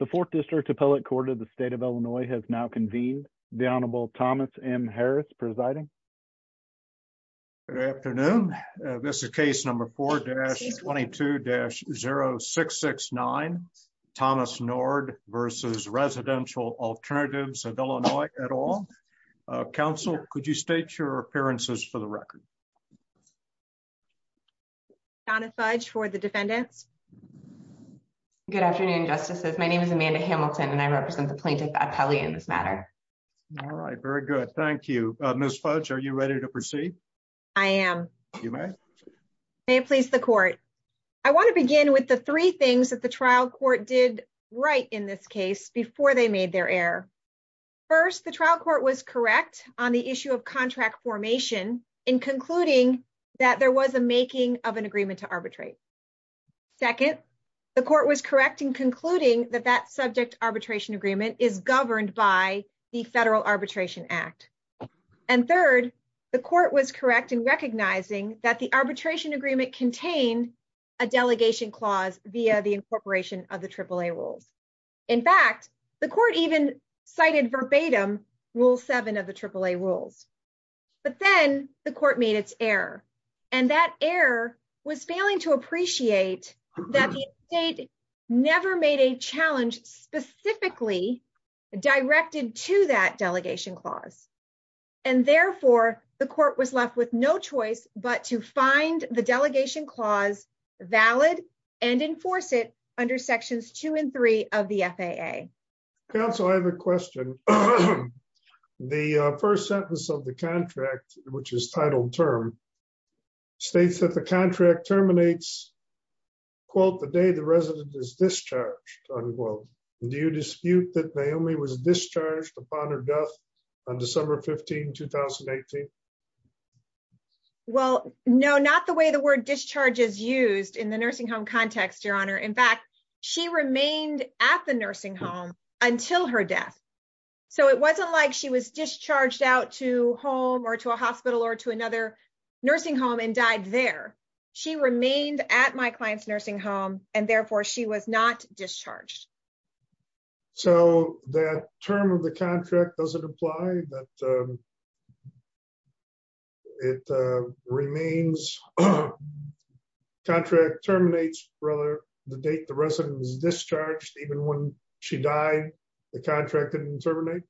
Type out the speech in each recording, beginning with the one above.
The 4th District Appellate Court of the State of Illinois has now convened. The Honorable Thomas M. Harris presiding. Good afternoon. This is case number 4-22-0669, Thomas Nord versus Residential Alternatives of Illinois et al. Counsel, could you state your appearances for the record? Donna Fudge for the defendants. Good afternoon, Justices. My name is Amanda Hamilton and I represent the plaintiff appellee in this matter. All right. Very good. Thank you. Ms. Fudge, are you ready to proceed? I am. You may. May it please the court. I want to begin with the three things that the trial court did right in this case before they made their error. First, the trial court was correct on the issue of contract formation in concluding that there was a making of an agreement to arbitrate. Second, the court was correct in concluding that that subject arbitration agreement is governed by the Federal Arbitration Act. And third, the court was correct in recognizing that the arbitration agreement contained a delegation clause via the incorporation of the AAA rules. In fact, the court even cited verbatim Rule 7 of the AAA rules. But then the court made its error and that error was failing to appreciate that the state never made a challenge specifically directed to that delegation clause. And therefore, the court was left with no choice but to find the delegation clause valid and enforce it under sections two and three of the FAA. Counsel, I have a question. The first sentence of the contract, which is titled term, states that the contract terminates, quote, the day the resident is discharged, unquote. Do you dispute that Naomi was discharged upon her death on December 15, 2018? Well, no, not the way the word discharge is used in the nursing home context, Your Honor. In fact, she remained at the nursing home until her death. So it wasn't like she was discharged out to home or to a hospital or to another nursing home and died there. She remained at my client's nursing home and therefore she was not discharged. So the term of the contract doesn't apply, but it remains. Contract terminates for the date the resident was discharged. Even when she died, the contract didn't terminate.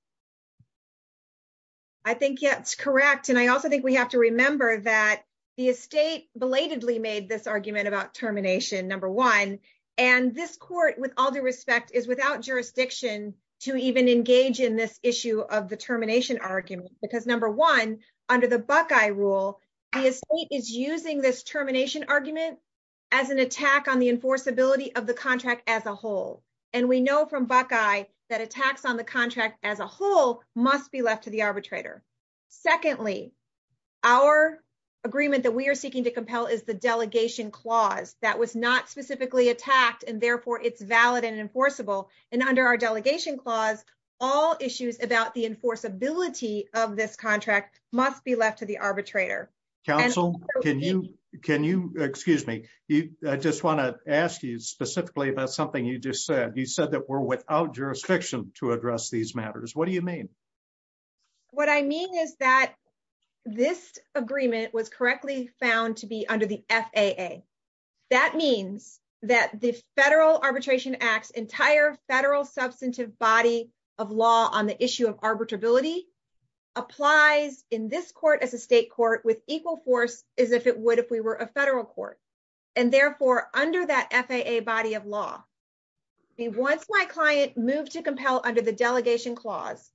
I think that's correct. And I also think we have to remember that the estate belatedly made this argument about termination, number one. And this court, with all due respect, is without jurisdiction to even engage in this issue of the termination argument. Because number one, under the Buckeye rule, the estate is using this termination argument as an attack on the enforceability of the contract as a whole. And we know from Buckeye that attacks on the contract as a whole must be left to the arbitrator. Secondly, our agreement that we are seeking to compel is the delegation clause. That was not specifically attacked and therefore it's valid and enforceable. And under our delegation clause, all issues about the enforceability of this contract must be left to the arbitrator. Counsel, can you, excuse me, I just want to ask you specifically about something you just said. You said that we're without jurisdiction to address these matters. What do you mean? What I mean is that this agreement was correctly found to be under the FAA. That means that the Federal Arbitration Act's entire federal substantive body of law on the issue of arbitrability applies in this court as a state court with equal force as if it would if we were a federal court. And therefore, under that FAA body of law, once my client moved to compel under the delegation clause,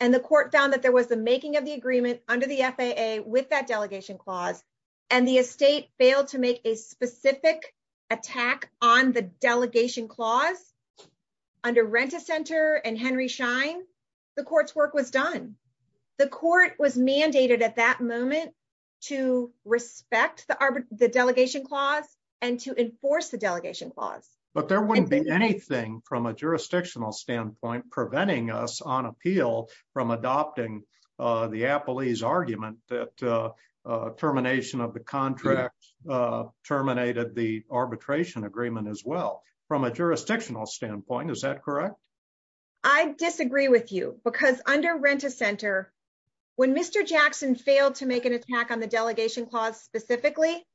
and the court found that there was the making of the agreement under the FAA with that delegation clause, and the estate failed to make a specific attack on the delegation clause, under Renta Center and Henry Schein, the court's work was done. The court was mandated at that moment to respect the delegation clause and to enforce the delegation clause. But there wouldn't be anything from a jurisdictional standpoint preventing us on appeal from adopting the appellee's argument that termination of the contract terminated the arbitration agreement as well from a jurisdictional standpoint, is that correct? I disagree with you because under Renta Center, when Mr. Jackson failed to make an attack on the delegation clause specifically,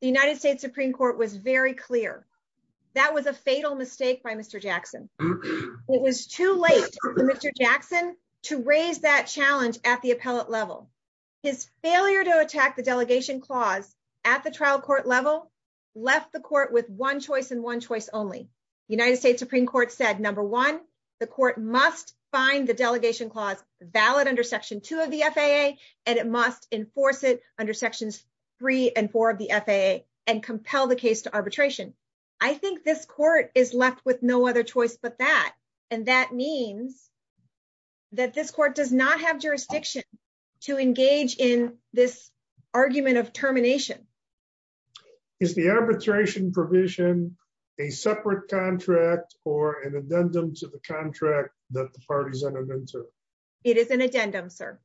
the United States Supreme Court was very clear. That was a fatal mistake by Mr. Jackson. It was too late for Mr. Jackson to raise that challenge at the appellate level. His failure to attack the delegation clause at the trial court level left the court with one choice and one choice only. The United States Supreme Court said, number one, the court must find the delegation clause valid under Section 2 of the FAA, and it must enforce it under Sections 3 and 4 of the FAA and compel the case to arbitration. I think this court is left with no other choice but that, and that means that this court does not have jurisdiction to engage in this argument of termination. Is the arbitration provision a separate contract or an addendum to the contract that the parties entered into? It is an addendum, sir.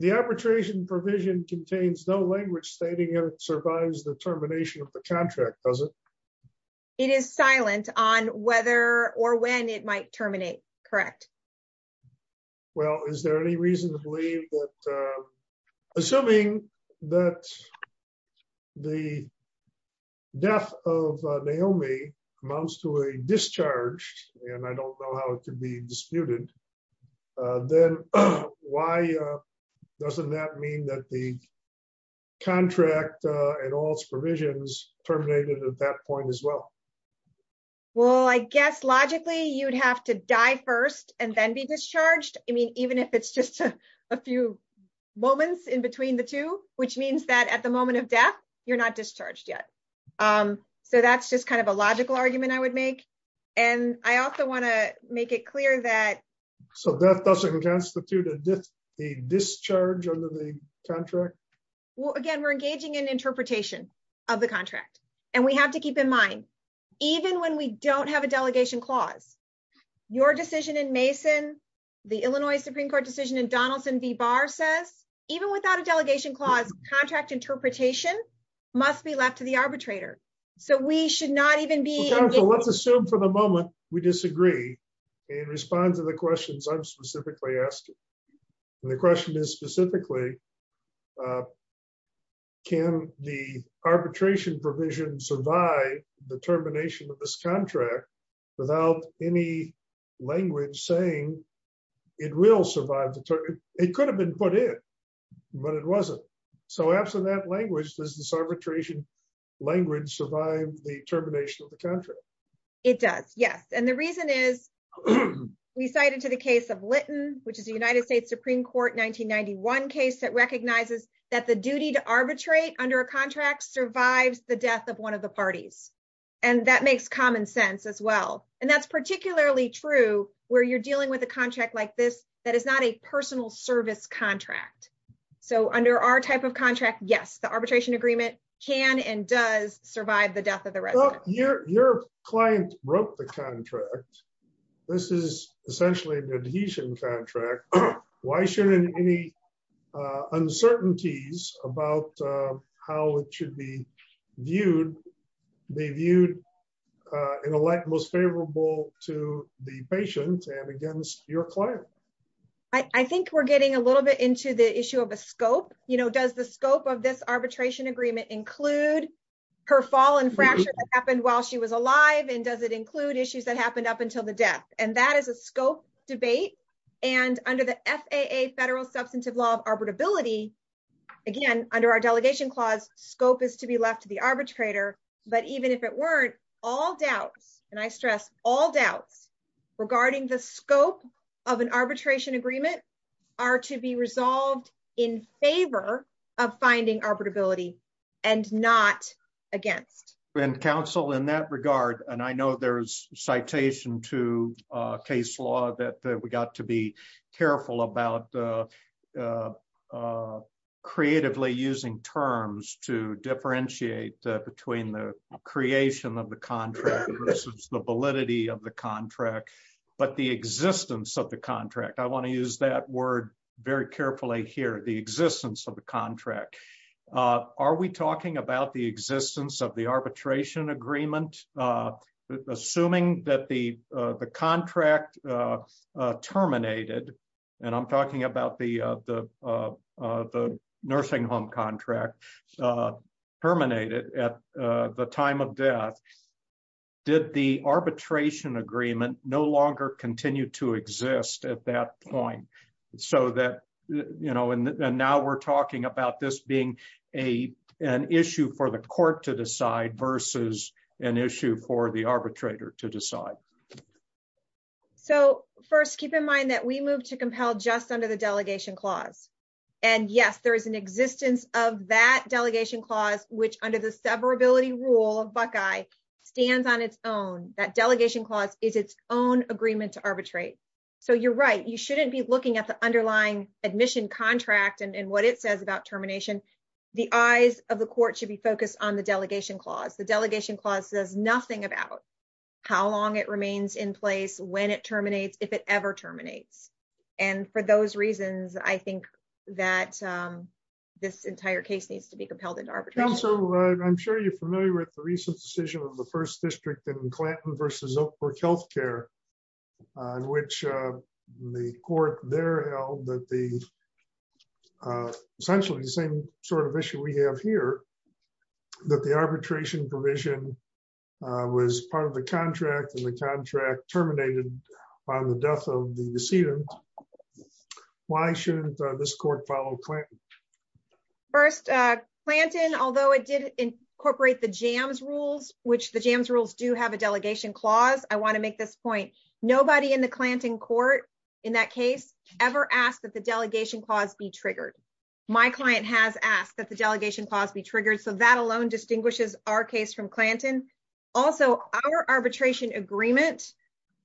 The arbitration provision contains no language stating it survives the termination of the contract, does it? It is silent on whether or when it might terminate, correct? Well, is there any reason to believe that, assuming that the death of Naomi amounts to a discharge, and I don't know how it could be disputed, then why doesn't that mean that the contract and all its provisions terminated at that point as well? Well, I guess logically you'd have to die first and then be discharged. I mean, even if it's just a few moments in between the two, which means that at the moment of death, you're not discharged yet. So that's just kind of a logical argument I would make. And I also want to make it clear that... So death doesn't constitute a discharge under the contract? Well, again, we're engaging in interpretation of the contract. And we have to keep in mind, even when we don't have a delegation clause, your decision in Mason, the Illinois Supreme Court decision in Donaldson v. Barr says, even without a delegation clause, contract interpretation must be left to the arbitrator. So we should not even be... Let's assume for the moment we disagree and respond to the questions I'm specifically asking. The question is specifically, can the arbitration provision survive the termination of this contract without any language saying it will survive the termination? It could have been put in, but it wasn't. So absent that language, does this arbitration language survive the termination of the contract? It does, yes. And the reason is, we cited to the case of Litton, which is a United States Supreme Court 1991 case that recognizes that the duty to arbitrate under a contract survives the death of one of the parties. And that makes common sense as well. And that's particularly true where you're dealing with a contract like this, that is not a personal service contract. So under our type of contract, yes, the arbitration agreement can and does survive the death of the resident. Your client broke the contract. This is essentially an adhesion contract. Why shouldn't any uncertainties about how it should be viewed be viewed in a light most favorable to the patient and against your client? I think we're getting a little bit into the issue of a scope. Does the scope of this arbitration agreement include her fall and fracture that happened while she was alive? And does it include issues that happened up until the death? And that is a scope debate. And under the FAA federal substantive law of arbitrability, again, under our delegation clause, scope is to be left to the arbitrator. But even if it weren't, all doubts, and I stress all doubts regarding the scope of an arbitration agreement are to be resolved in favor of finding arbitrability and not against. And counsel in that regard, and I know there's citation to case law that we got to be careful about creatively using terms to differentiate between the creation of the contract versus the validity of the contract, but the existence of the contract. I want to use that word very carefully here, the existence of the contract. Are we talking about the existence of the arbitration agreement? Assuming that the contract terminated, and I'm talking about the nursing home contract terminated at the time of death, did the arbitration agreement no longer continue to exist at that point? So that, you know, and now we're talking about this being an issue for the court to decide versus an issue for the arbitrator to decide? So first, keep in mind that we moved to compel just under the delegation clause. And yes, there is an existence of that delegation clause, which under the severability rule of Buckeye stands on its own. That delegation clause is its own agreement to arbitrate. So you're right, you shouldn't be looking at the underlying admission contract and what it says about termination. The eyes of the court should be focused on the delegation clause. The delegation clause says nothing about how long it remains in place, when it terminates, if it ever terminates. And for those reasons, I think that this entire case needs to be compelled into arbitration. Counsel, I'm sure you're familiar with the recent decision of the first district in Clanton versus Oakbrook Healthcare, which the court there held that the essentially the same sort of issue we have here, that the arbitration provision was part of the contract and the contract terminated on the death of the decedent. Why shouldn't this court follow Clanton? First, Clanton, although it did incorporate the Jams rules, which the Jams rules do have a delegation clause, I want to make this point. Nobody in the Clanton court in that case ever asked that the delegation clause be triggered. My client has asked that the delegation clause be triggered. So that alone distinguishes our case from Clanton. Also, our arbitration agreement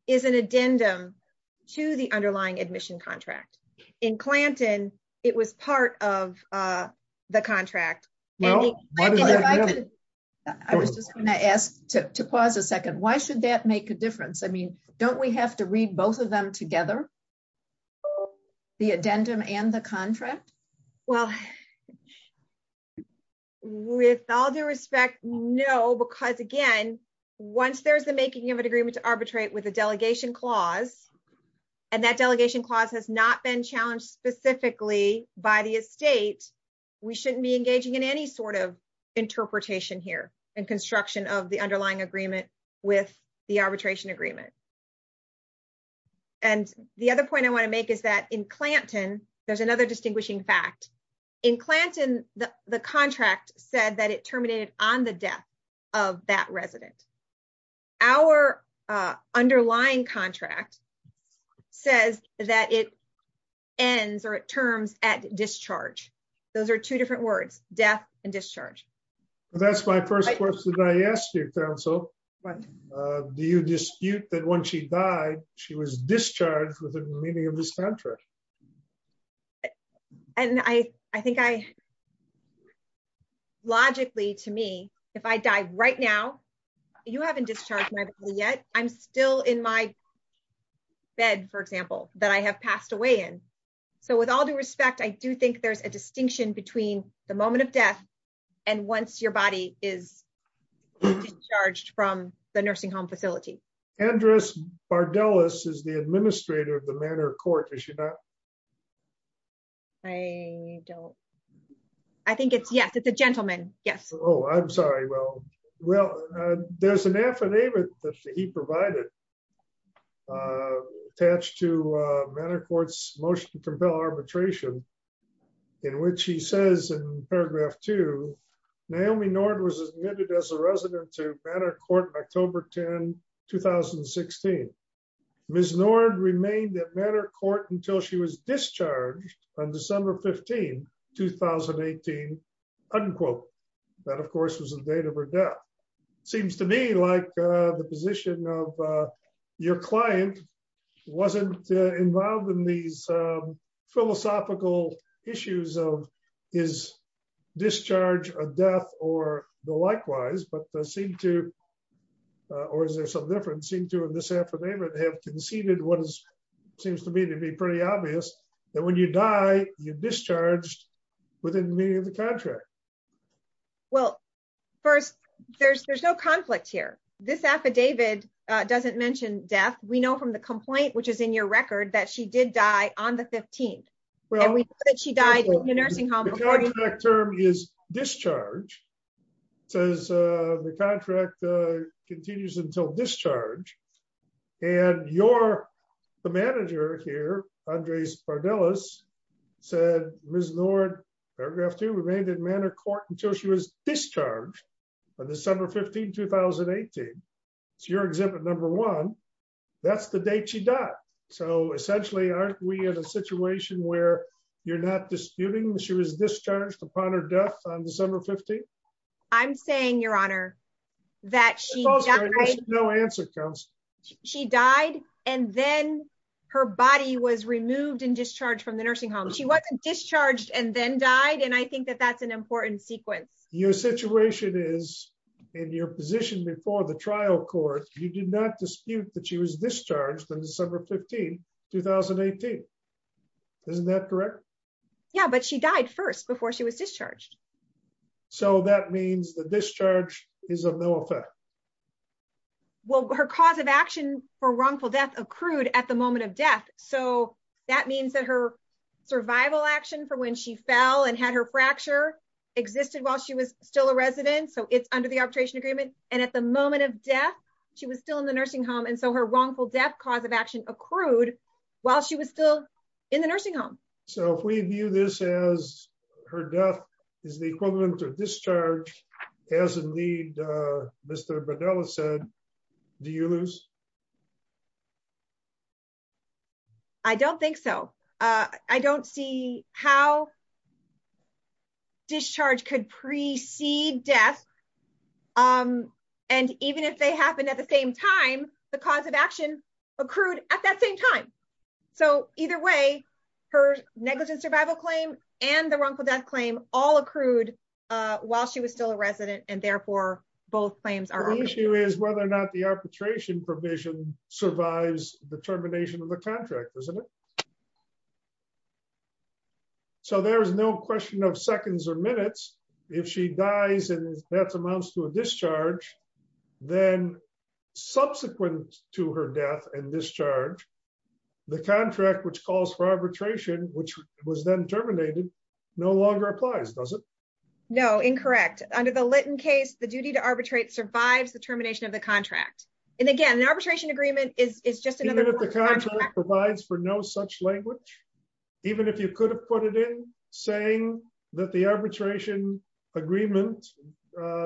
is an addendum to the underlying admission contract. In Clanton, it was part of the contract. I was just going to ask to pause a second. Why should that make a difference? I mean, don't we have to read both of them together? The addendum and the contract? Well, with all due respect, no, because again, once there's the making of an agreement to arbitrate with a delegation clause, and that delegation clause has not been challenged specifically by the estate, we shouldn't be engaging in any sort of interpretation here and construction of the underlying agreement with the arbitration agreement. And the other point I want to make is that in Clanton, there's another distinguishing fact. In Clanton, the contract said that it terminated on the death of that resident. Our underlying contract says that it ends or it terms at discharge. Those are two different words, death and discharge. That's my first question I asked your counsel. Do you dispute that when she died, she was discharged with the meaning of this contract? And I, I think I, logically to me, if I die right now, you haven't discharged yet, I'm still in my bed, for example, that I have passed away in. So with all due respect, I do think there's a distinction between the moment of death. And once your body is charged from the nursing home facility address our Dallas is the administrator of the manner of court issue. I don't. I think it's Yes, it's a gentleman. Yes. Oh, I'm sorry. Well, well, there's an affidavit that he provided. Attached to manner courts motion to compel arbitration, in which he says in paragraph to Naomi Nord was admitted as a resident to manner court October 10 2016. Miss Nord remained at manner court until she was discharged on December 15 2018, unquote, that of course was the date of her death seems to me like the position of your client wasn't involved in these philosophical issues of his discharge a death or the seems to me to be pretty obvious that when you die, you discharged within the contract. Well, first, there's there's no conflict here. This affidavit doesn't mention death, we know from the complaint which is in your record that she did die on the 15th. She died in the nursing home term is discharge says the contract continues until discharge. And you're the manager here, Andres for Dallas said was Lord paragraph to remain in manner court until she was discharged on December 15 2018. Your exhibit number one. That's the date she died. So essentially aren't we in a situation where you're not disputing she was discharged upon her death on December 15. I'm saying Your Honor, that she has no answer comes. She died, and then her body was removed and discharged from the nursing home she wasn't discharged and then died and I think that that's an important sequence, your situation is in your position before the trial court, you did not dispute that she was discharged on December 15 2018. Isn't that correct. Yeah, but she died first before she was discharged. So that means the discharge is a no effect. Well, her cause of action for wrongful death accrued at the moment of death. So that means that her survival action for when she fell and had her fracture existed while she was still a resident so it's under the arbitration agreement, and at the moment of death. She was still in the nursing home and so her wrongful death cause of action accrued, while she was still in the nursing home. So if we view this as her death is the equivalent of discharge as a lead. Mr. Vidal said, do you lose. I don't think so. I don't see how discharge could precede death. And even if they happen at the same time, the cause of action accrued at that same time. So, either way, her negligence survival claim, and the wrongful death claim all accrued while she was still a resident and therefore both claims are issue is whether or not the arbitration provision survives the termination of the contract, isn't it. So there's no question of seconds or minutes. If she dies and that's amounts to a discharge. Then, subsequent to her death and discharge. The contract which calls for arbitration, which was then terminated no longer applies doesn't know incorrect under the Lytton case the duty to arbitrate survives the termination of the contract. And again arbitration agreement is just another provides for no such language. Even if you could have put it in, saying that the arbitration agreement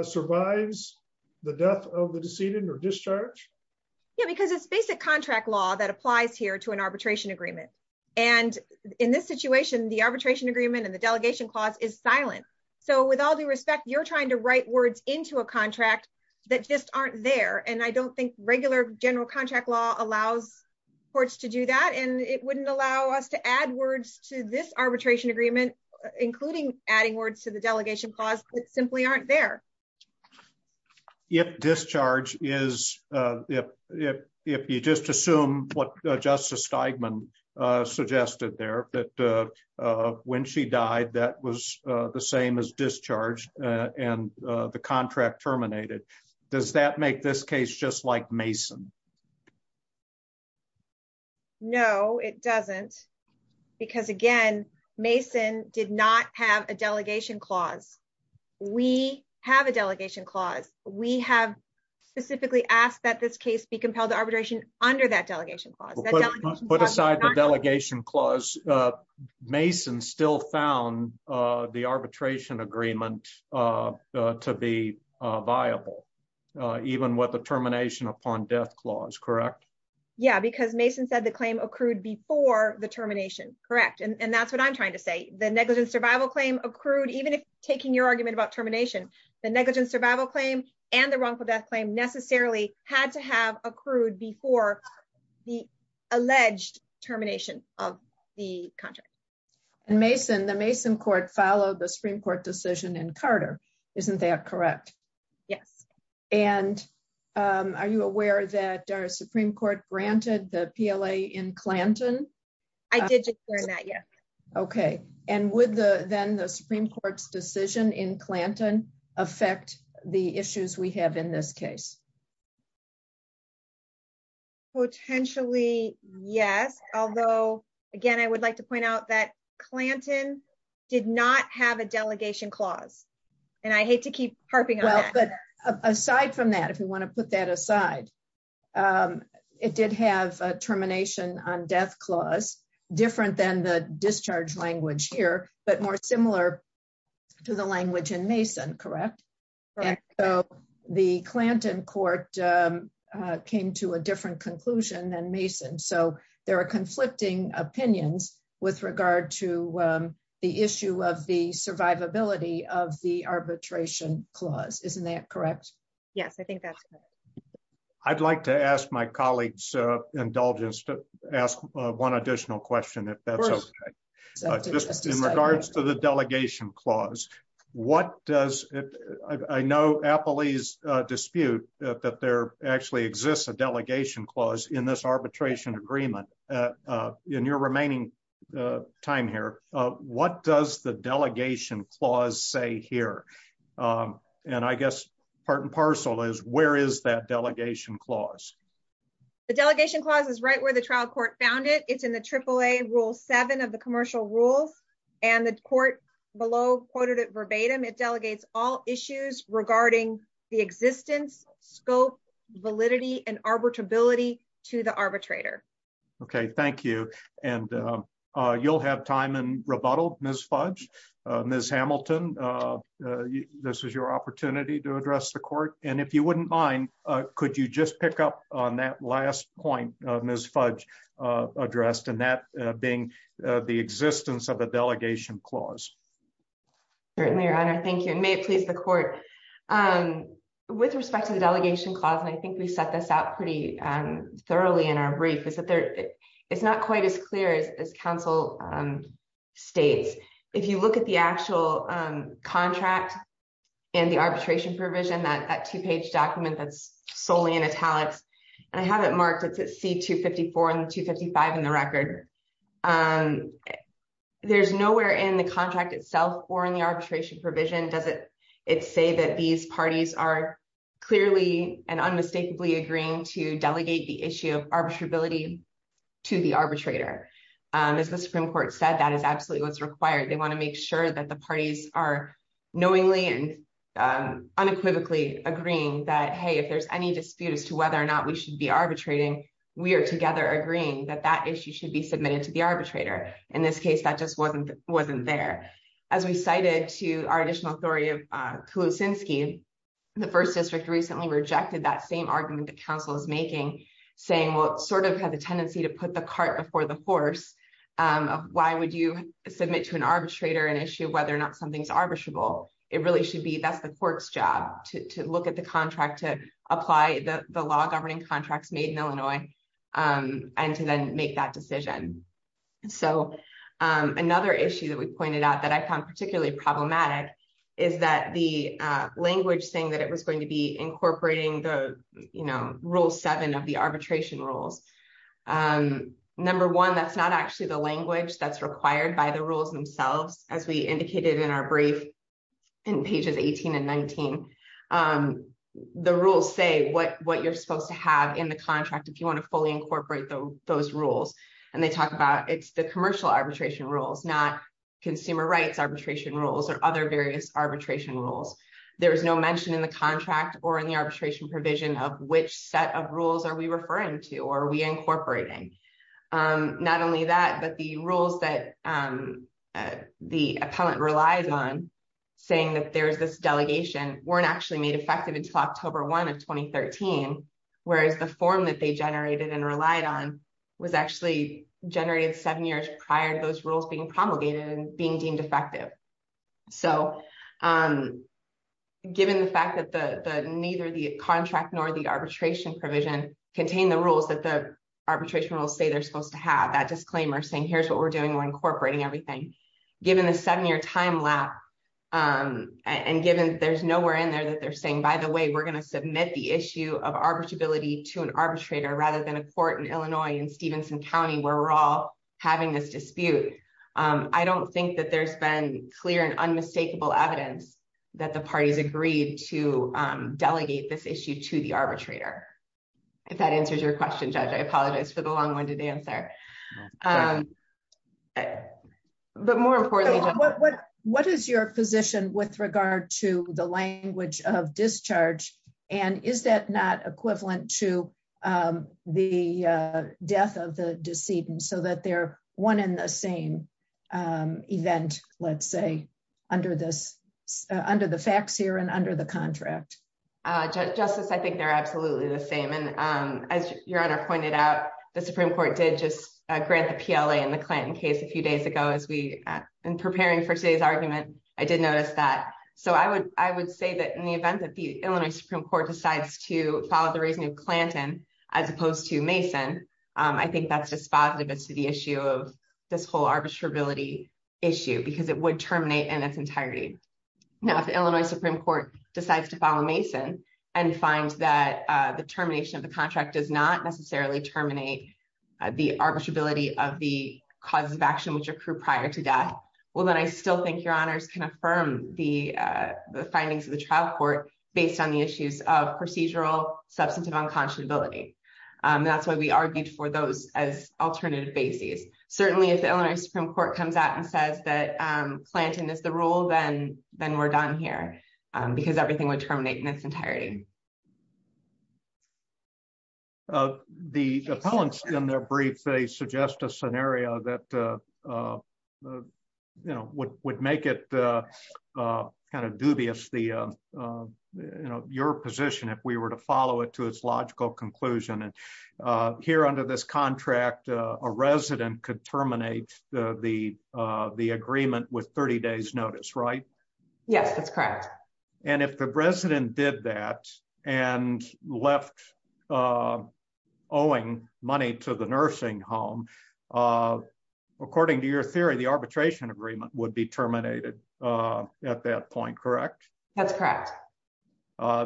survives the death of the decedent or discharge. Yeah, because it's basic contract law that applies here to an arbitration agreement. And in this situation the arbitration agreement and the delegation clause is silent. So with all due respect, you're trying to write words into a contract that just aren't there and I don't think regular general contract law allows courts to do that and it wouldn't allow us to add words to this arbitration agreement, including adding words to the delegation clause that simply aren't there. If discharge is, if, if, if you just assume what Justice Steigman suggested there, but when she died that was the same as discharge, and the contract terminated. Does that make this case just like Mason. No, it doesn't. Because again, Mason did not have a delegation clause. We have a delegation clause, we have specifically asked that this case be compelled to arbitration under that delegation. Put aside the delegation clause. Mason still found the arbitration agreement to be viable. Even what the termination upon death clause correct. Yeah, because Mason said the claim accrued before the termination, correct and that's what I'm trying to say the negligence survival claim accrued even if taking your argument about termination, the negligence survival claim, and the wrongful death claim necessarily had to have accrued before the alleged termination of the contract and Mason the Mason court follow the Supreme Court decision and Carter. Isn't that correct. Yes. And are you aware that our Supreme Court granted the PLA in Clanton. I didn't hear that yet. Okay. And with the then the Supreme Court's decision in Clanton affect the issues we have in this case. Potentially, yes. Although, again, I would like to point out that Clanton did not have a delegation clause, and I hate to keep harping. Aside from that, if you want to put that aside. It did have termination on death clause, different than the discharge language here, but more similar to the language and Mason correct. So, the Clanton court came to a different conclusion and Mason so there are conflicting opinions with regard to the issue of the survivability of the arbitration clause, isn't that correct. Yes, I think that's. I'd like to ask my colleagues indulgence to ask one additional question if that's in regards to the delegation clause. What does it. I know Appley's dispute that there actually exists a delegation clause in this arbitration agreement in your remaining time here. What does the delegation clause say here. And I guess, part and parcel is where is that delegation clause. The delegation clauses right where the trial court found it, it's in the AAA rule seven of the commercial rules, and the court below quoted it verbatim it delegates all issues regarding the existence scope validity and arbitrability to the arbitrator. Okay, thank you. And you'll have time and rebuttal, Miss fudge, Miss Hamilton. This is your opportunity to address the court, and if you wouldn't mind. Could you just pick up on that last point, Miss fudge addressed and that being the existence of a delegation clause. Certainly your honor Thank you and may it please the court. With respect to the delegation clause and I think we set this out pretty thoroughly in our brief is that there. It's not quite as clear as Council states. If you look at the actual contract, and the arbitration provision that that two page document that's solely in italics, and I haven't marked it to see 254 and 255 in the record. There's nowhere in the contract itself, or in the arbitration provision does it. It's say that these parties are clearly and unmistakably agreeing to delegate the issue of arbitrability to the arbitrator. As the Supreme Court said that is absolutely what's required they want to make sure that the parties are knowingly and unequivocally agreeing that hey if there's any dispute as to whether or not we should be arbitrating, we are together agreeing that that Why would you submit to an arbitrator and issue whether or not something's arbitrable, it really should be that's the court's job to look at the contract to apply the law governing contracts made in Illinois, and to then make that decision. So, another issue that we pointed out that I found particularly problematic is that the language thing that it was going to be incorporating the, you know, rule seven of the arbitration rules. Number one that's not actually the language that's required by the rules themselves, as we indicated in our brief in pages 18 and 19. The rules say what what you're supposed to have in the contract if you want to fully incorporate those rules, and they talked about it's the commercial arbitration rules not consumer rights arbitration rules or other various arbitration rules. There was no mention in the contract or in the arbitration provision of which set of rules are we referring to or we incorporating. Not only that, but the rules that the appellant relies on saying that there's this delegation weren't actually made effective until October one of 2013 whereas the form that they generated and relied on was actually generated seven years prior to those rules being promulgated and being deemed effective. So, given the fact that the neither the contract nor the arbitration provision contain the rules that the arbitration will say they're supposed to have that disclaimer saying here's what we're doing we're incorporating everything. Given the seven year time lap, and given there's nowhere in there that they're saying by the way we're going to submit the issue of arbitrability to an arbitrator rather than a court in Illinois and Stevenson County where we're all having this dispute. I don't think that there's been clear and unmistakable evidence that the parties agreed to delegate this issue to the arbitrator. If that answers your question judge I apologize for the long winded answer. But more importantly, what, what is your position with regard to the language of discharge. And is that not equivalent to the death of the decedent so that they're one in the same event, let's say, under this under the facts here and under the contract. Justice I think they're absolutely the same and as your honor pointed out, the Supreme Court did just grant the PLA and the Clinton case a few days ago as we in preparing for today's argument, I did notice that. So I would, I would say that in the event that the Illinois Supreme Court decides to follow the reasoning of Clinton, as opposed to Mason. I think that's just positive as to the issue of this whole arbitrability issue because it would terminate in its entirety. Now if the Illinois Supreme Court decides to follow Mason and find that the termination of the contract does not necessarily terminate the arbitrability of the causes of action which are prior to death. Well then I still think your honors can affirm the findings of the trial court, based on the issues of procedural substantive unconscionability. That's why we argued for those as alternative basis, certainly if the Illinois Supreme Court comes out and says that planting is the rule then then we're done here, because everything would terminate in its entirety. The appellants in their brief they suggest a scenario that you know what would make it kind of dubious the, you know, your position if we were to follow it to its logical conclusion and here under this contract, a resident could terminate the, the agreement with 30 days notice right. Yes, that's correct. And if the president did that, and left owing money to the nursing home. According to your theory the arbitration agreement would be terminated. At that point, correct. That's correct.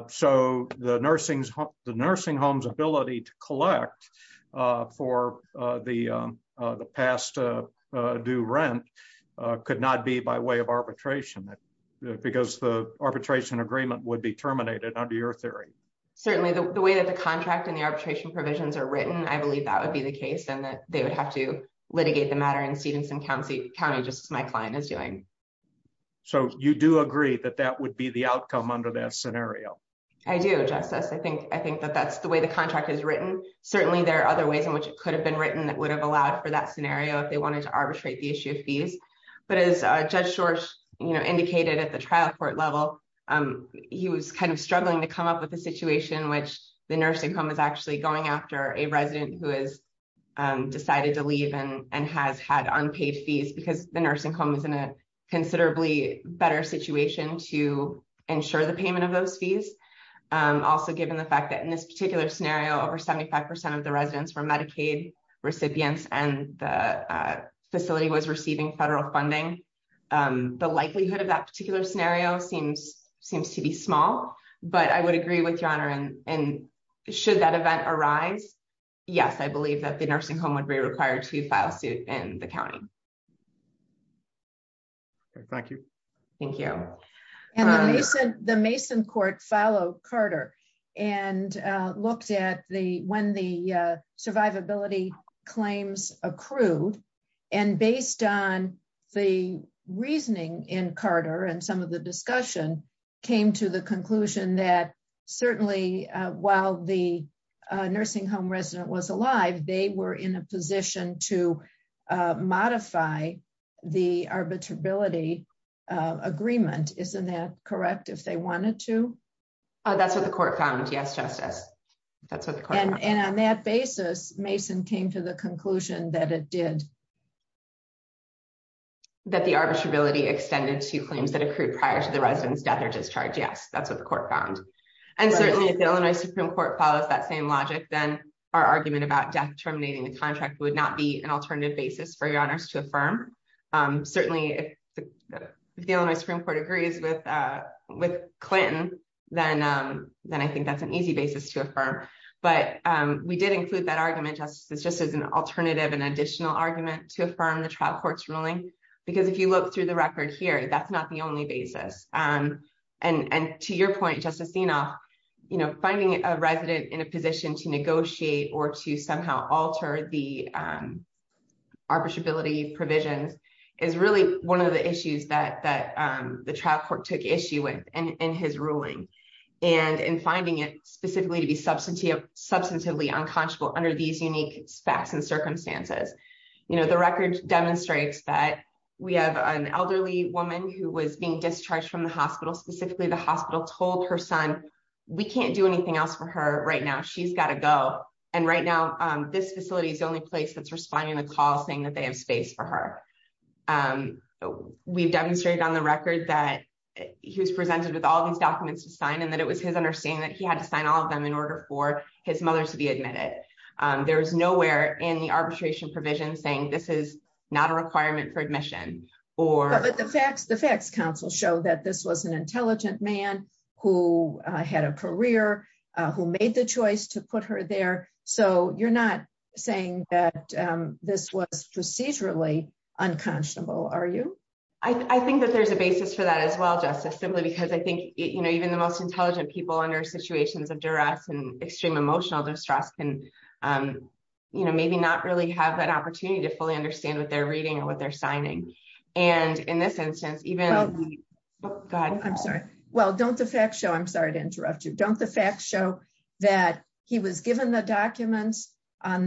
So, the nursing, the nursing homes ability to collect for the past do rent could not be by way of arbitration, because the arbitration agreement would be terminated under your theory. Certainly the way that the contract and the arbitration provisions are written I believe that would be the case and that they would have to litigate the matter and Stevenson county county just my client is doing. So you do agree that that would be the outcome under that scenario. I do justice I think I think that that's the way the contract is written, certainly there are other ways in which it could have been written that would have allowed for that scenario if they wanted to arbitrate the issue of fees, but as a judge source, you know indicated at the trial court level. He was kind of struggling to come up with a situation which the nursing home is actually going after a resident who is decided to leave and and has had unpaid fees because the nursing home is in a considerably better situation to ensure the payment of those fees. Also, given the fact that in this particular scenario over 75% of the residents for Medicaid recipients and the facility was receiving federal funding. The likelihood of that particular scenario seems seems to be small, but I would agree with your honor and and should that event arise. Yes, I believe that the nursing home would be required to file suit in the county. Thank you. Thank you. The Mason court follow Carter and looked at the when the survivability claims accrued and based on the reasoning in Carter and some of the discussion came to the conclusion that certainly, while the nursing home resident was alive, they were in a position to modify the arbitrability agreement, isn't that correct if they wanted to. That's what the court found yes justice. That's what the court and and on that basis, Mason came to the conclusion that it did that the arbitrability extended to claims that accrued prior to the residents death or discharge Yes, that's what the court found. And certainly the Illinois Supreme Court follows that same logic, then our argument about death terminating the contract would not be an alternative basis for your honors to affirm. Certainly, the Illinois Supreme Court agrees with with Clinton, then, then I think that's an easy basis to affirm, but we did include that argument just as just as an alternative and additional argument to affirm the trial courts ruling, because if you look through the record here that's not the only basis. And, and to your point justice enough, you know, finding a resident in a position to negotiate or to somehow alter the arbitrability provisions is really one of the issues that that the trial court took issue with, and his ruling, and in finding it specifically to be substantive substantively unconscionable under these unique facts and circumstances. You know the record demonstrates that we have an elderly woman who was being discharged from the hospital specifically the hospital told her son. We can't do anything else for her right now she's got to go. And right now, this facility is the only place that's responding the call saying that they have space for her. We've demonstrated on the record that he was presented with all these documents to sign and that it was his understanding that he had to sign all of them in order for his mother to be admitted. There's nowhere in the arbitration provision saying this is not a requirement for admission, or the facts the facts council show that this was an intelligent man who had a career, who made the choice to put her there. So you're not saying that this was procedurally unconscionable are you, I think that there's a basis for that as well justice simply because I think, you know, even the most intelligent people under situations of duress and extreme emotional distress can, you know, documents on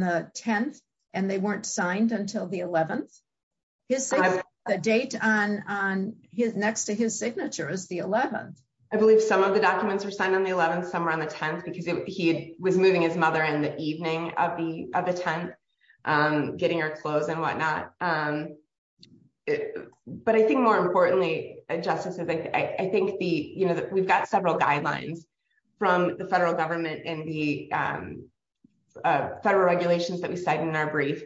the 10th, and they weren't signed until the 11th is the date on on his next to his signature is the 11th, I believe some of the documents are signed on the 11th somewhere on the 10th because he was moving his mother in the evening of the of the 10th, getting our clothes and whatnot. But I think more importantly, just as I think the you know that we've got several guidelines from the federal government and the federal regulations that we cited in our brief,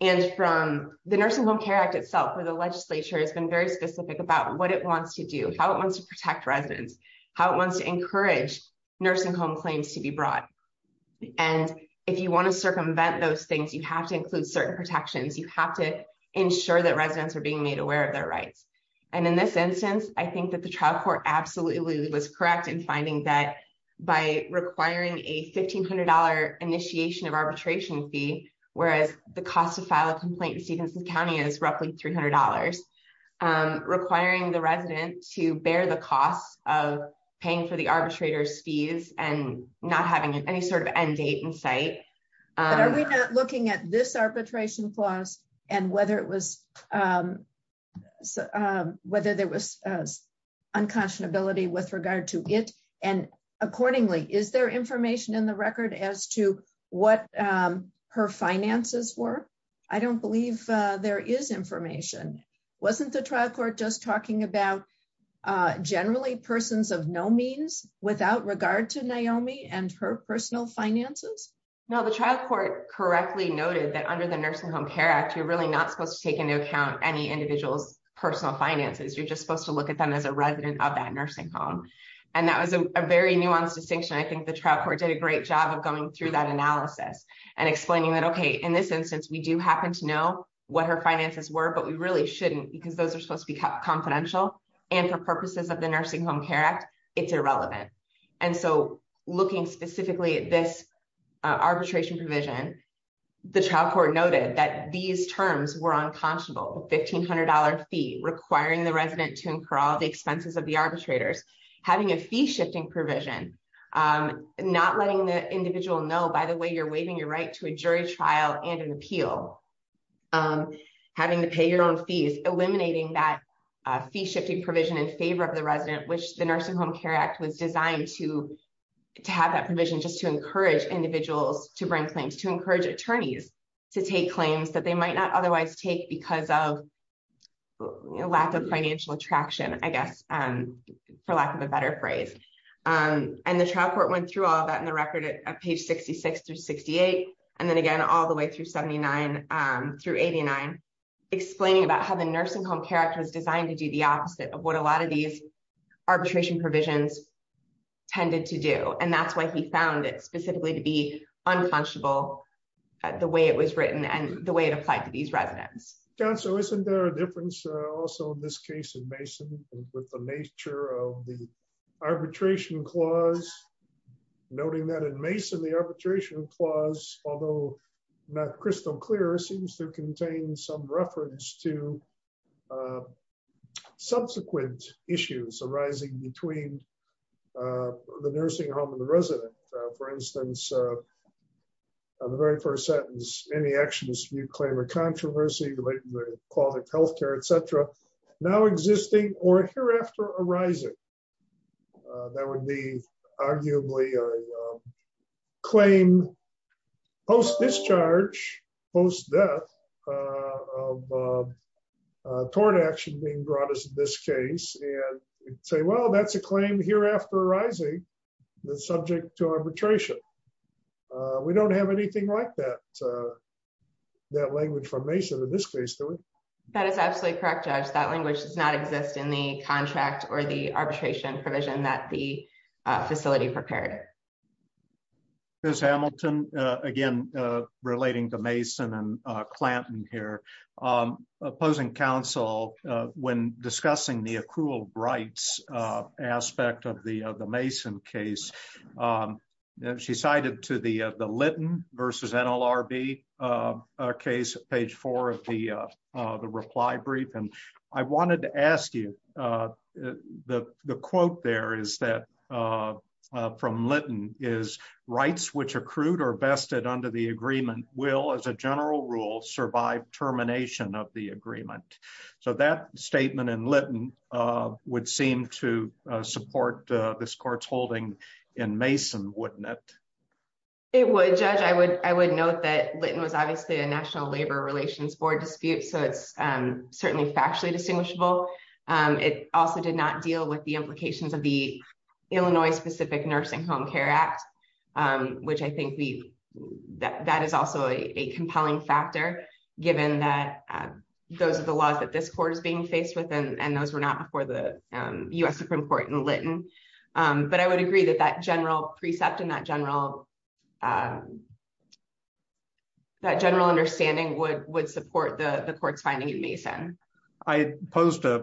and from the nursing home care act itself where the legislature has been very sure that residents are being made aware of their rights. And in this instance, I think that the trial court absolutely was correct in finding that by requiring a $1,500 initiation of arbitration fee, whereas the cost of file a complaint in Stephenson County is roughly $300 requiring the resident to bear the costs of paying for the arbitrators fees and not having any sort of end date and site. Looking at this arbitration clause, and whether it was whether there was unconscionability with regard to it. And accordingly, is there information in the record as to what her finances were. I don't believe there is information. Wasn't the trial court just talking about generally persons of no means without regard to Naomi and her personal finances. Now the trial court correctly noted that under the nursing home care act you're really not supposed to take into account any individuals, personal finances, you're just supposed to look at them as a resident of that nursing home. And that was a very nuanced distinction I think the trial court did a great job of going through that analysis and explaining that okay in this instance we do happen to know what her finances were but we really shouldn't because those are supposed to be confidential, and for purposes of the nursing home care act, it's irrelevant. And so, looking specifically at this arbitration provision. The trial court noted that these terms were unconscionable $1500 fee requiring the resident to incur all the expenses of the arbitrators, having a fee shifting provision, not letting the individual know by the way you're waiving your right to a jury trial and an appeal, having to pay your own fees, eliminating that fee shifting provision in favor of the resident which the nursing home care act was designed to to have that provision just to encourage individuals to bring claims to encourage attorneys to take claims that they might not through 89 explaining about how the nursing home care was designed to do the opposite of what a lot of these arbitration provisions tended to do and that's why he found it specifically to be unconscionable. The way it was written and the way it applied to these residents. So isn't there a difference. Also in this case in Mason, with the nature of the arbitration clause, noting that in Mason the arbitration clause, although not crystal clear seems to contain some reference to subsequent issues arising between the nursing home and the resident. For instance, the very first sentence, any actions you claim a controversy related to the quality of health care, etc. Now existing or hereafter arising. That would be arguably claim post discharge post death of tort action being brought us in this case, and say well that's a claim here after rising the subject to arbitration. We don't have anything like that. That language from Mason in this case. That is absolutely correct Josh that language does not exist in the contract or the arbitration provision that the facility prepared. There's Hamilton, again, relating to Mason and Clanton here opposing counsel. When discussing the accrual rights aspect of the, the Mason case that she cited to the, the Lytton versus NLRB case, page four of the reply brief and I wanted to ask you the, the quote there is that from Lytton is rights which accrued or bested under the agreement will as a general rule survive termination of the agreement. So that statement and Lytton would seem to support this courts holding in Mason wouldn't it. It would judge I would, I would note that Lytton was obviously a National Labor Relations Board dispute so it's certainly factually distinguishable. It also did not deal with the implications of the Illinois specific nursing home care act, which I think we that that is also a compelling factor, given that those are the laws that this court is being faced with and those were not before the US Supreme Court and Lytton. But I would agree that that general precept and that general that general understanding would would support the courts finding it Mason. I posed a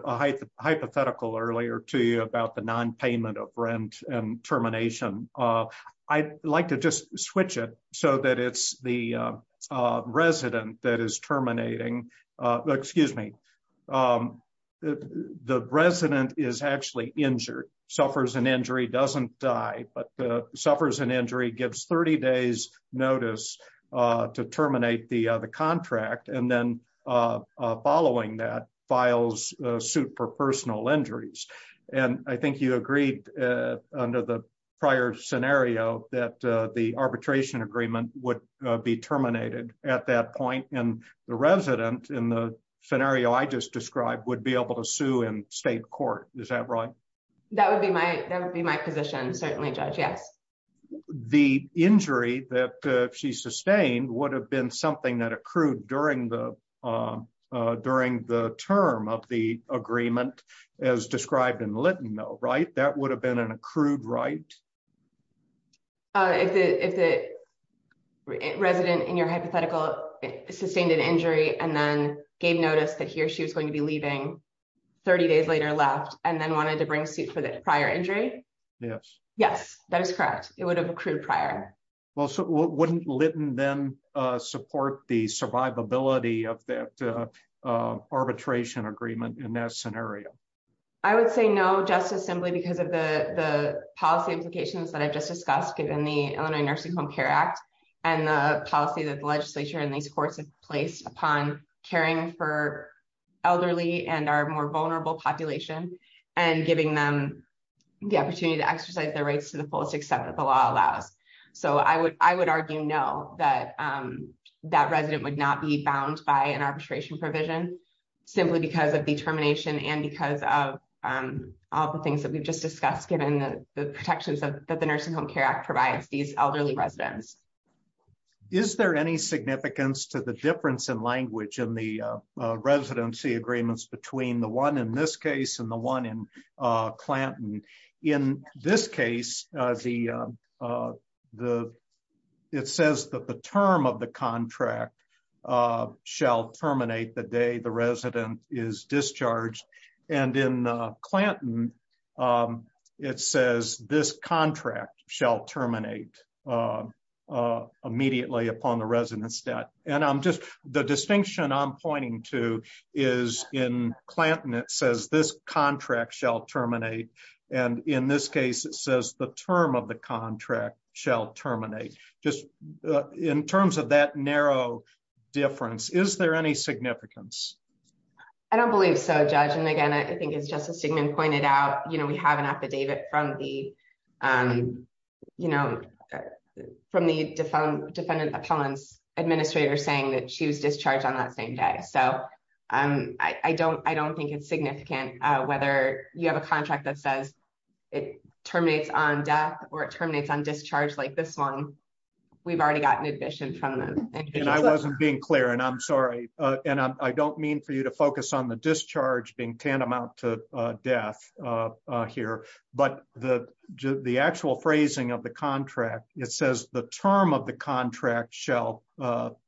hypothetical earlier to you about the non payment of rent and termination. I like to just switch it so that it's the resident that is terminating. Excuse me. The resident is actually injured suffers an injury doesn't die, but suffers an injury gives 30 days notice to terminate the contract and then following that files suit for personal injuries. And I think you agreed. Under the prior scenario that the arbitration agreement would be terminated. At that point, and the resident in the scenario I just described would be able to sue and state court. Is that right. That would be my, that would be my position certainly judge yes. The injury that she sustained would have been something that accrued during the, during the term of the agreement as described in Lytton though right that would have been an accrued right. If the resident in your hypothetical sustained an injury and then gave notice that he or she was going to be leaving 30 days later left, and then wanted to bring suit for the prior injury. Yes, yes, that is correct. It would have accrued prior. Well, so wouldn't Lytton then support the survivability of that arbitration agreement in that scenario. I would say no justice simply because of the policy implications that I've just discussed given the Illinois nursing home Care Act, and the policy that the legislature and these courts have placed upon caring for elderly and are more vulnerable population and giving them the opportunity to exercise their rights to the fullest except that the law allows. So I would, I would argue no that that resident would not be bound by an arbitration provision, simply because of determination and because of all the things that we've just discussed given the protections that the nursing home Care Act provides these elderly residents. Is there any significance to the difference in language and the residency agreements between the one in this case and the one in Clinton. In this case, the, the. It says that the term of the contract shall terminate the day the resident is discharged and in Clinton. It says this contract shall terminate immediately upon the residents that, and I'm just the distinction I'm pointing to is in Clinton it says this contract shall terminate. And in this case, it says the term of the contract shall terminate just in terms of that narrow difference is there any significance. I don't believe so judge and again I think it's just a statement pointed out, you know, we have an affidavit from the, you know, from the defund defendant appellants administrator saying that she was discharged on that same day so I'm, I don't, I don't think it's significant, whether you have a contract that says it terminates on death or terminates on discharge like this one. We've already gotten admission from them, and I wasn't being clear and I'm sorry, and I don't mean for you to focus on the discharge being tantamount to death here, but the, the actual phrasing of the contract, it says the term of the contract shall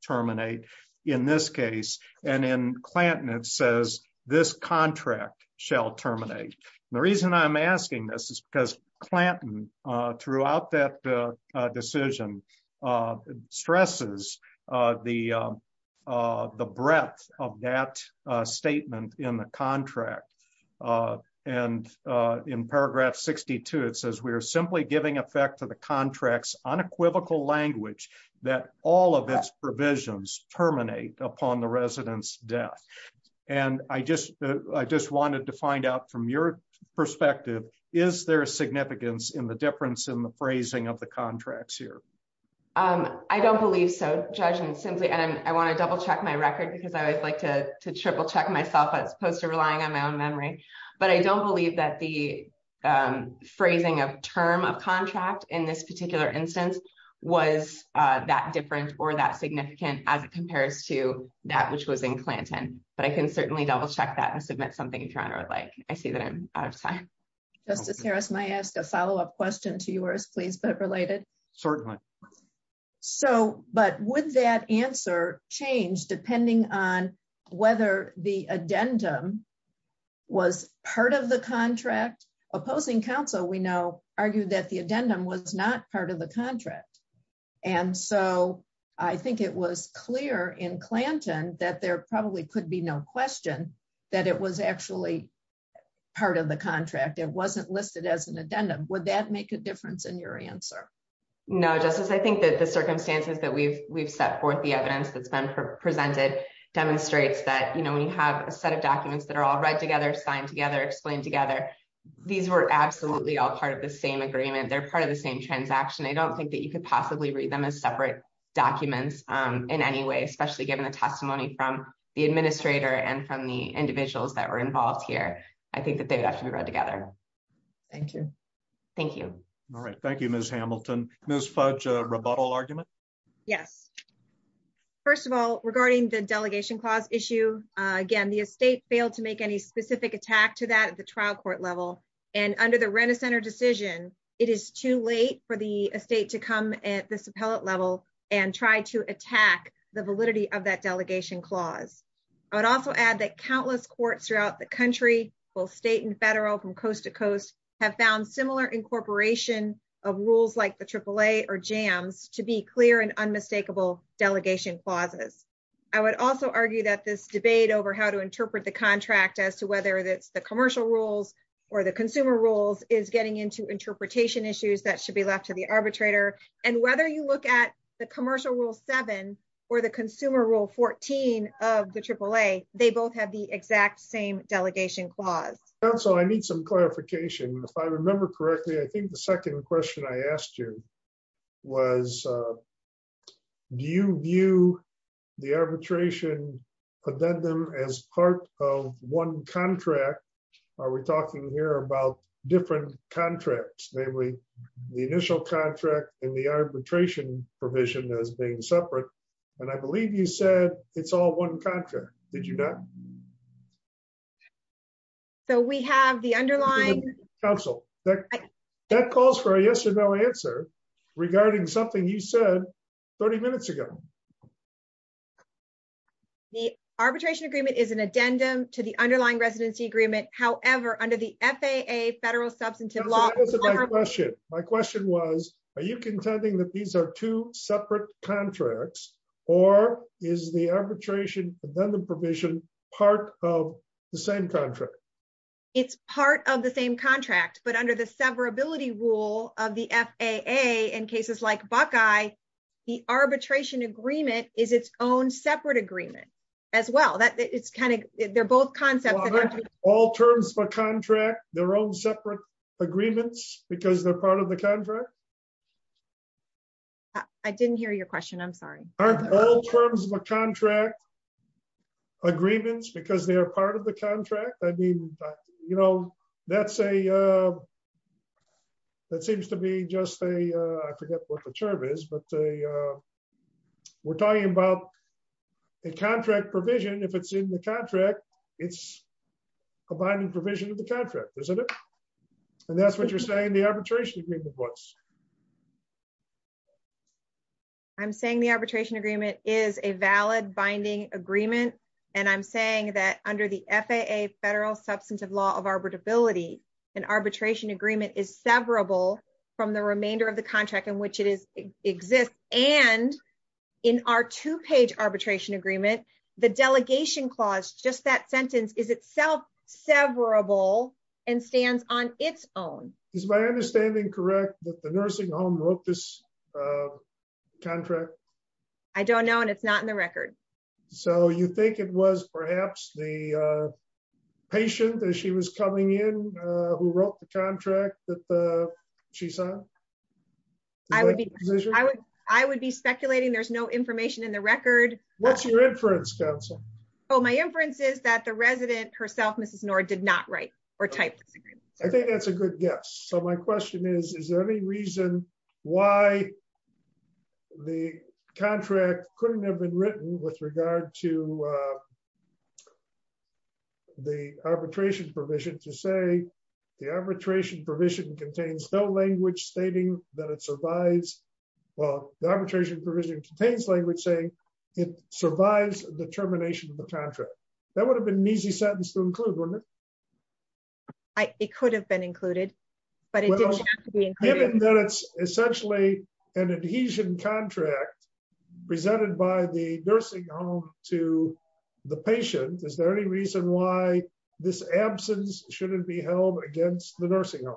terminate. In this case, and in Clinton it says this contract shall terminate. The reason I'm asking this is because Clinton throughout that decision stresses the, the breadth of that statement in the contract. And in paragraph 62 it says we are simply giving effect to the contracts unequivocal language that all of its provisions terminate upon the residents death. And I just, I just wanted to find out from your perspective, is there a significance in the difference in the phrasing of the contracts here. I don't believe so, judging simply and I want to double check my record because I always like to triple check myself as opposed to relying on my own memory, but I don't believe that the phrasing of term of contract in this particular instance was that different or that significant as it compares to that which was in Clinton, but I can certainly double check that and submit something in Toronto like I see that I'm out of time. Justice Harris my ask a follow up question to yours please but related. Certainly. So, but with that answer change depending on whether the addendum was part of the contract opposing counsel we know argue that the addendum was not part of the contract. And so I think it was clear in Clinton, that there probably could be no question that it was actually part of the contract it wasn't listed as an addendum would that make a difference in your answer. No justice I think that the circumstances that we've we've set forth the evidence that's been presented demonstrates that you know when you have a set of documents that are all right together signed together explained together. These were absolutely all part of the same agreement they're part of the same transaction I don't think that you could possibly read them as separate documents in any way, especially given the testimony from the administrator and from the individuals that were involved here. I think that they'd have to be read together. Thank you. Thank you. All right. Thank you, Miss Hamilton, Miss fudge rebuttal argument. Yes. First of all, regarding the delegation clause issue again the estate failed to make any specific attack to that at the trial court level, and under the rent a center decision. It is too late for the estate to come at this appellate level and try to attack the validity of that delegation clause. I would also add that countless courts throughout the country, both state and federal from coast to coast, have found similar incorporation of rules like the triple A or jams to be clear and unmistakable delegation clauses. I would also argue that this debate over how to interpret the contract as to whether that's the commercial rules or the consumer rules is getting into interpretation issues that should be left to the arbitrator, and whether you look at the commercial rule seven, or the consumer rule 14 of the triple A, they both have the exact same delegation clause. So I need some clarification if I remember correctly I think the second question I asked you was. Do you view the arbitration addendum as part of one contract. Are we talking here about different contracts, namely, the initial contract and the arbitration provision as being separate. And I believe you said it's all one contract. Did you know. So we have the underlying council that that calls for a yes or no answer regarding something you said 30 minutes ago. The arbitration agreement is an addendum to the underlying residency agreement, however, under the FAA federal substantive law. My question was, are you contending that these are two separate contracts, or is the arbitration, then the provision, part of the same contract. It's part of the same contract but under the severability rule of the FAA in cases like Buckeye, the arbitration agreement is its own separate agreement as well that it's kind of, they're both concepts. All terms of a contract, their own separate agreements, because they're part of the contract. I didn't hear your question I'm sorry. All terms of a contract agreements because they are part of the contract, I mean, you know, that's a. That seems to be just a, I forget what the term is but we're talking about the contract provision if it's in the contract. It's combining provision of the contract, isn't it. And that's what you're saying the arbitration agreement was. I'm saying the arbitration agreement is a valid binding agreement. And I'm saying that under the FAA federal substantive law of arbitrability and arbitration agreement is severable from the remainder of the contract in which it is exist, and in our two page arbitration agreement. The delegation clause just that sentence is itself severable and stands on its own. Is my understanding correct that the nursing home wrote this contract. I don't know and it's not in the record. So you think it was perhaps the patient that she was coming in, who wrote the contract that she saw. I would be, I would, I would be speculating there's no information in the record. What's your inference Council. Oh my inferences that the resident herself Mrs nor did not write or type. I think that's a good guess. So my question is, is there any reason why the contract couldn't have been written with regard to the arbitration provision to say the arbitration provision contains no language stating that it survives. Well, the arbitration provision contains language saying it survives the termination of the contract. That would have been an easy sentence to include. I, it could have been included, but it's essentially an adhesion contract presented by the nursing home to the patient. Is there any reason why this absence shouldn't be held against the nursing home.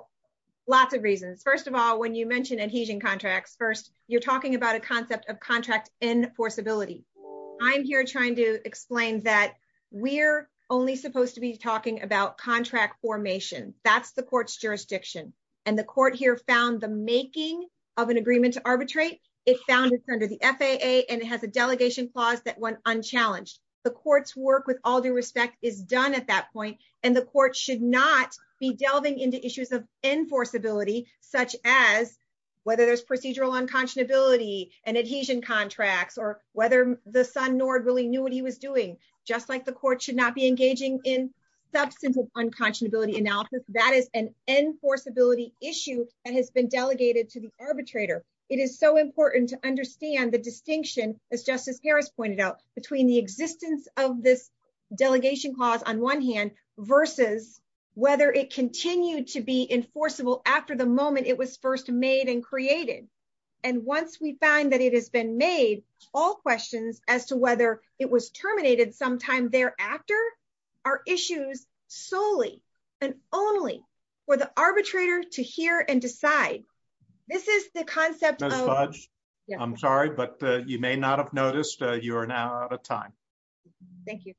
Lots of reasons. First of all, when you mentioned adhesion contracts. First, you're talking about a concept of contract enforceability. I'm here trying to explain that we're only supposed to be talking about contract formation, that's the court's jurisdiction, and the court here found the making of an agreement to arbitrate it founded under the FAA and it has a delegation clause that The court's work with all due respect is done at that point, and the court should not be delving into issues of enforceability, such as whether there's procedural unconscionability and adhesion contracts or whether the son Nord really knew what he was doing, just like the court should not be engaging in substance of unconscionability analysis that is an enforceability issue, and has been delegated to the arbitrator. It is so important to understand the distinction as Justice Harris pointed out between the existence of this delegation clause on one hand, versus whether it continued to be enforceable after the moment it was first made and created. And once we find that it has been made all questions as to whether it was terminated sometime thereafter are issues, solely and only for the arbitrator to hear and decide. This is the concept. I'm sorry, but you may not have noticed, you're now out of time. Thank you.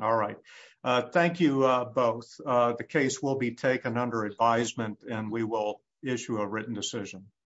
All right. Thank you, both the case will be taken under advisement, and we will issue a written decision.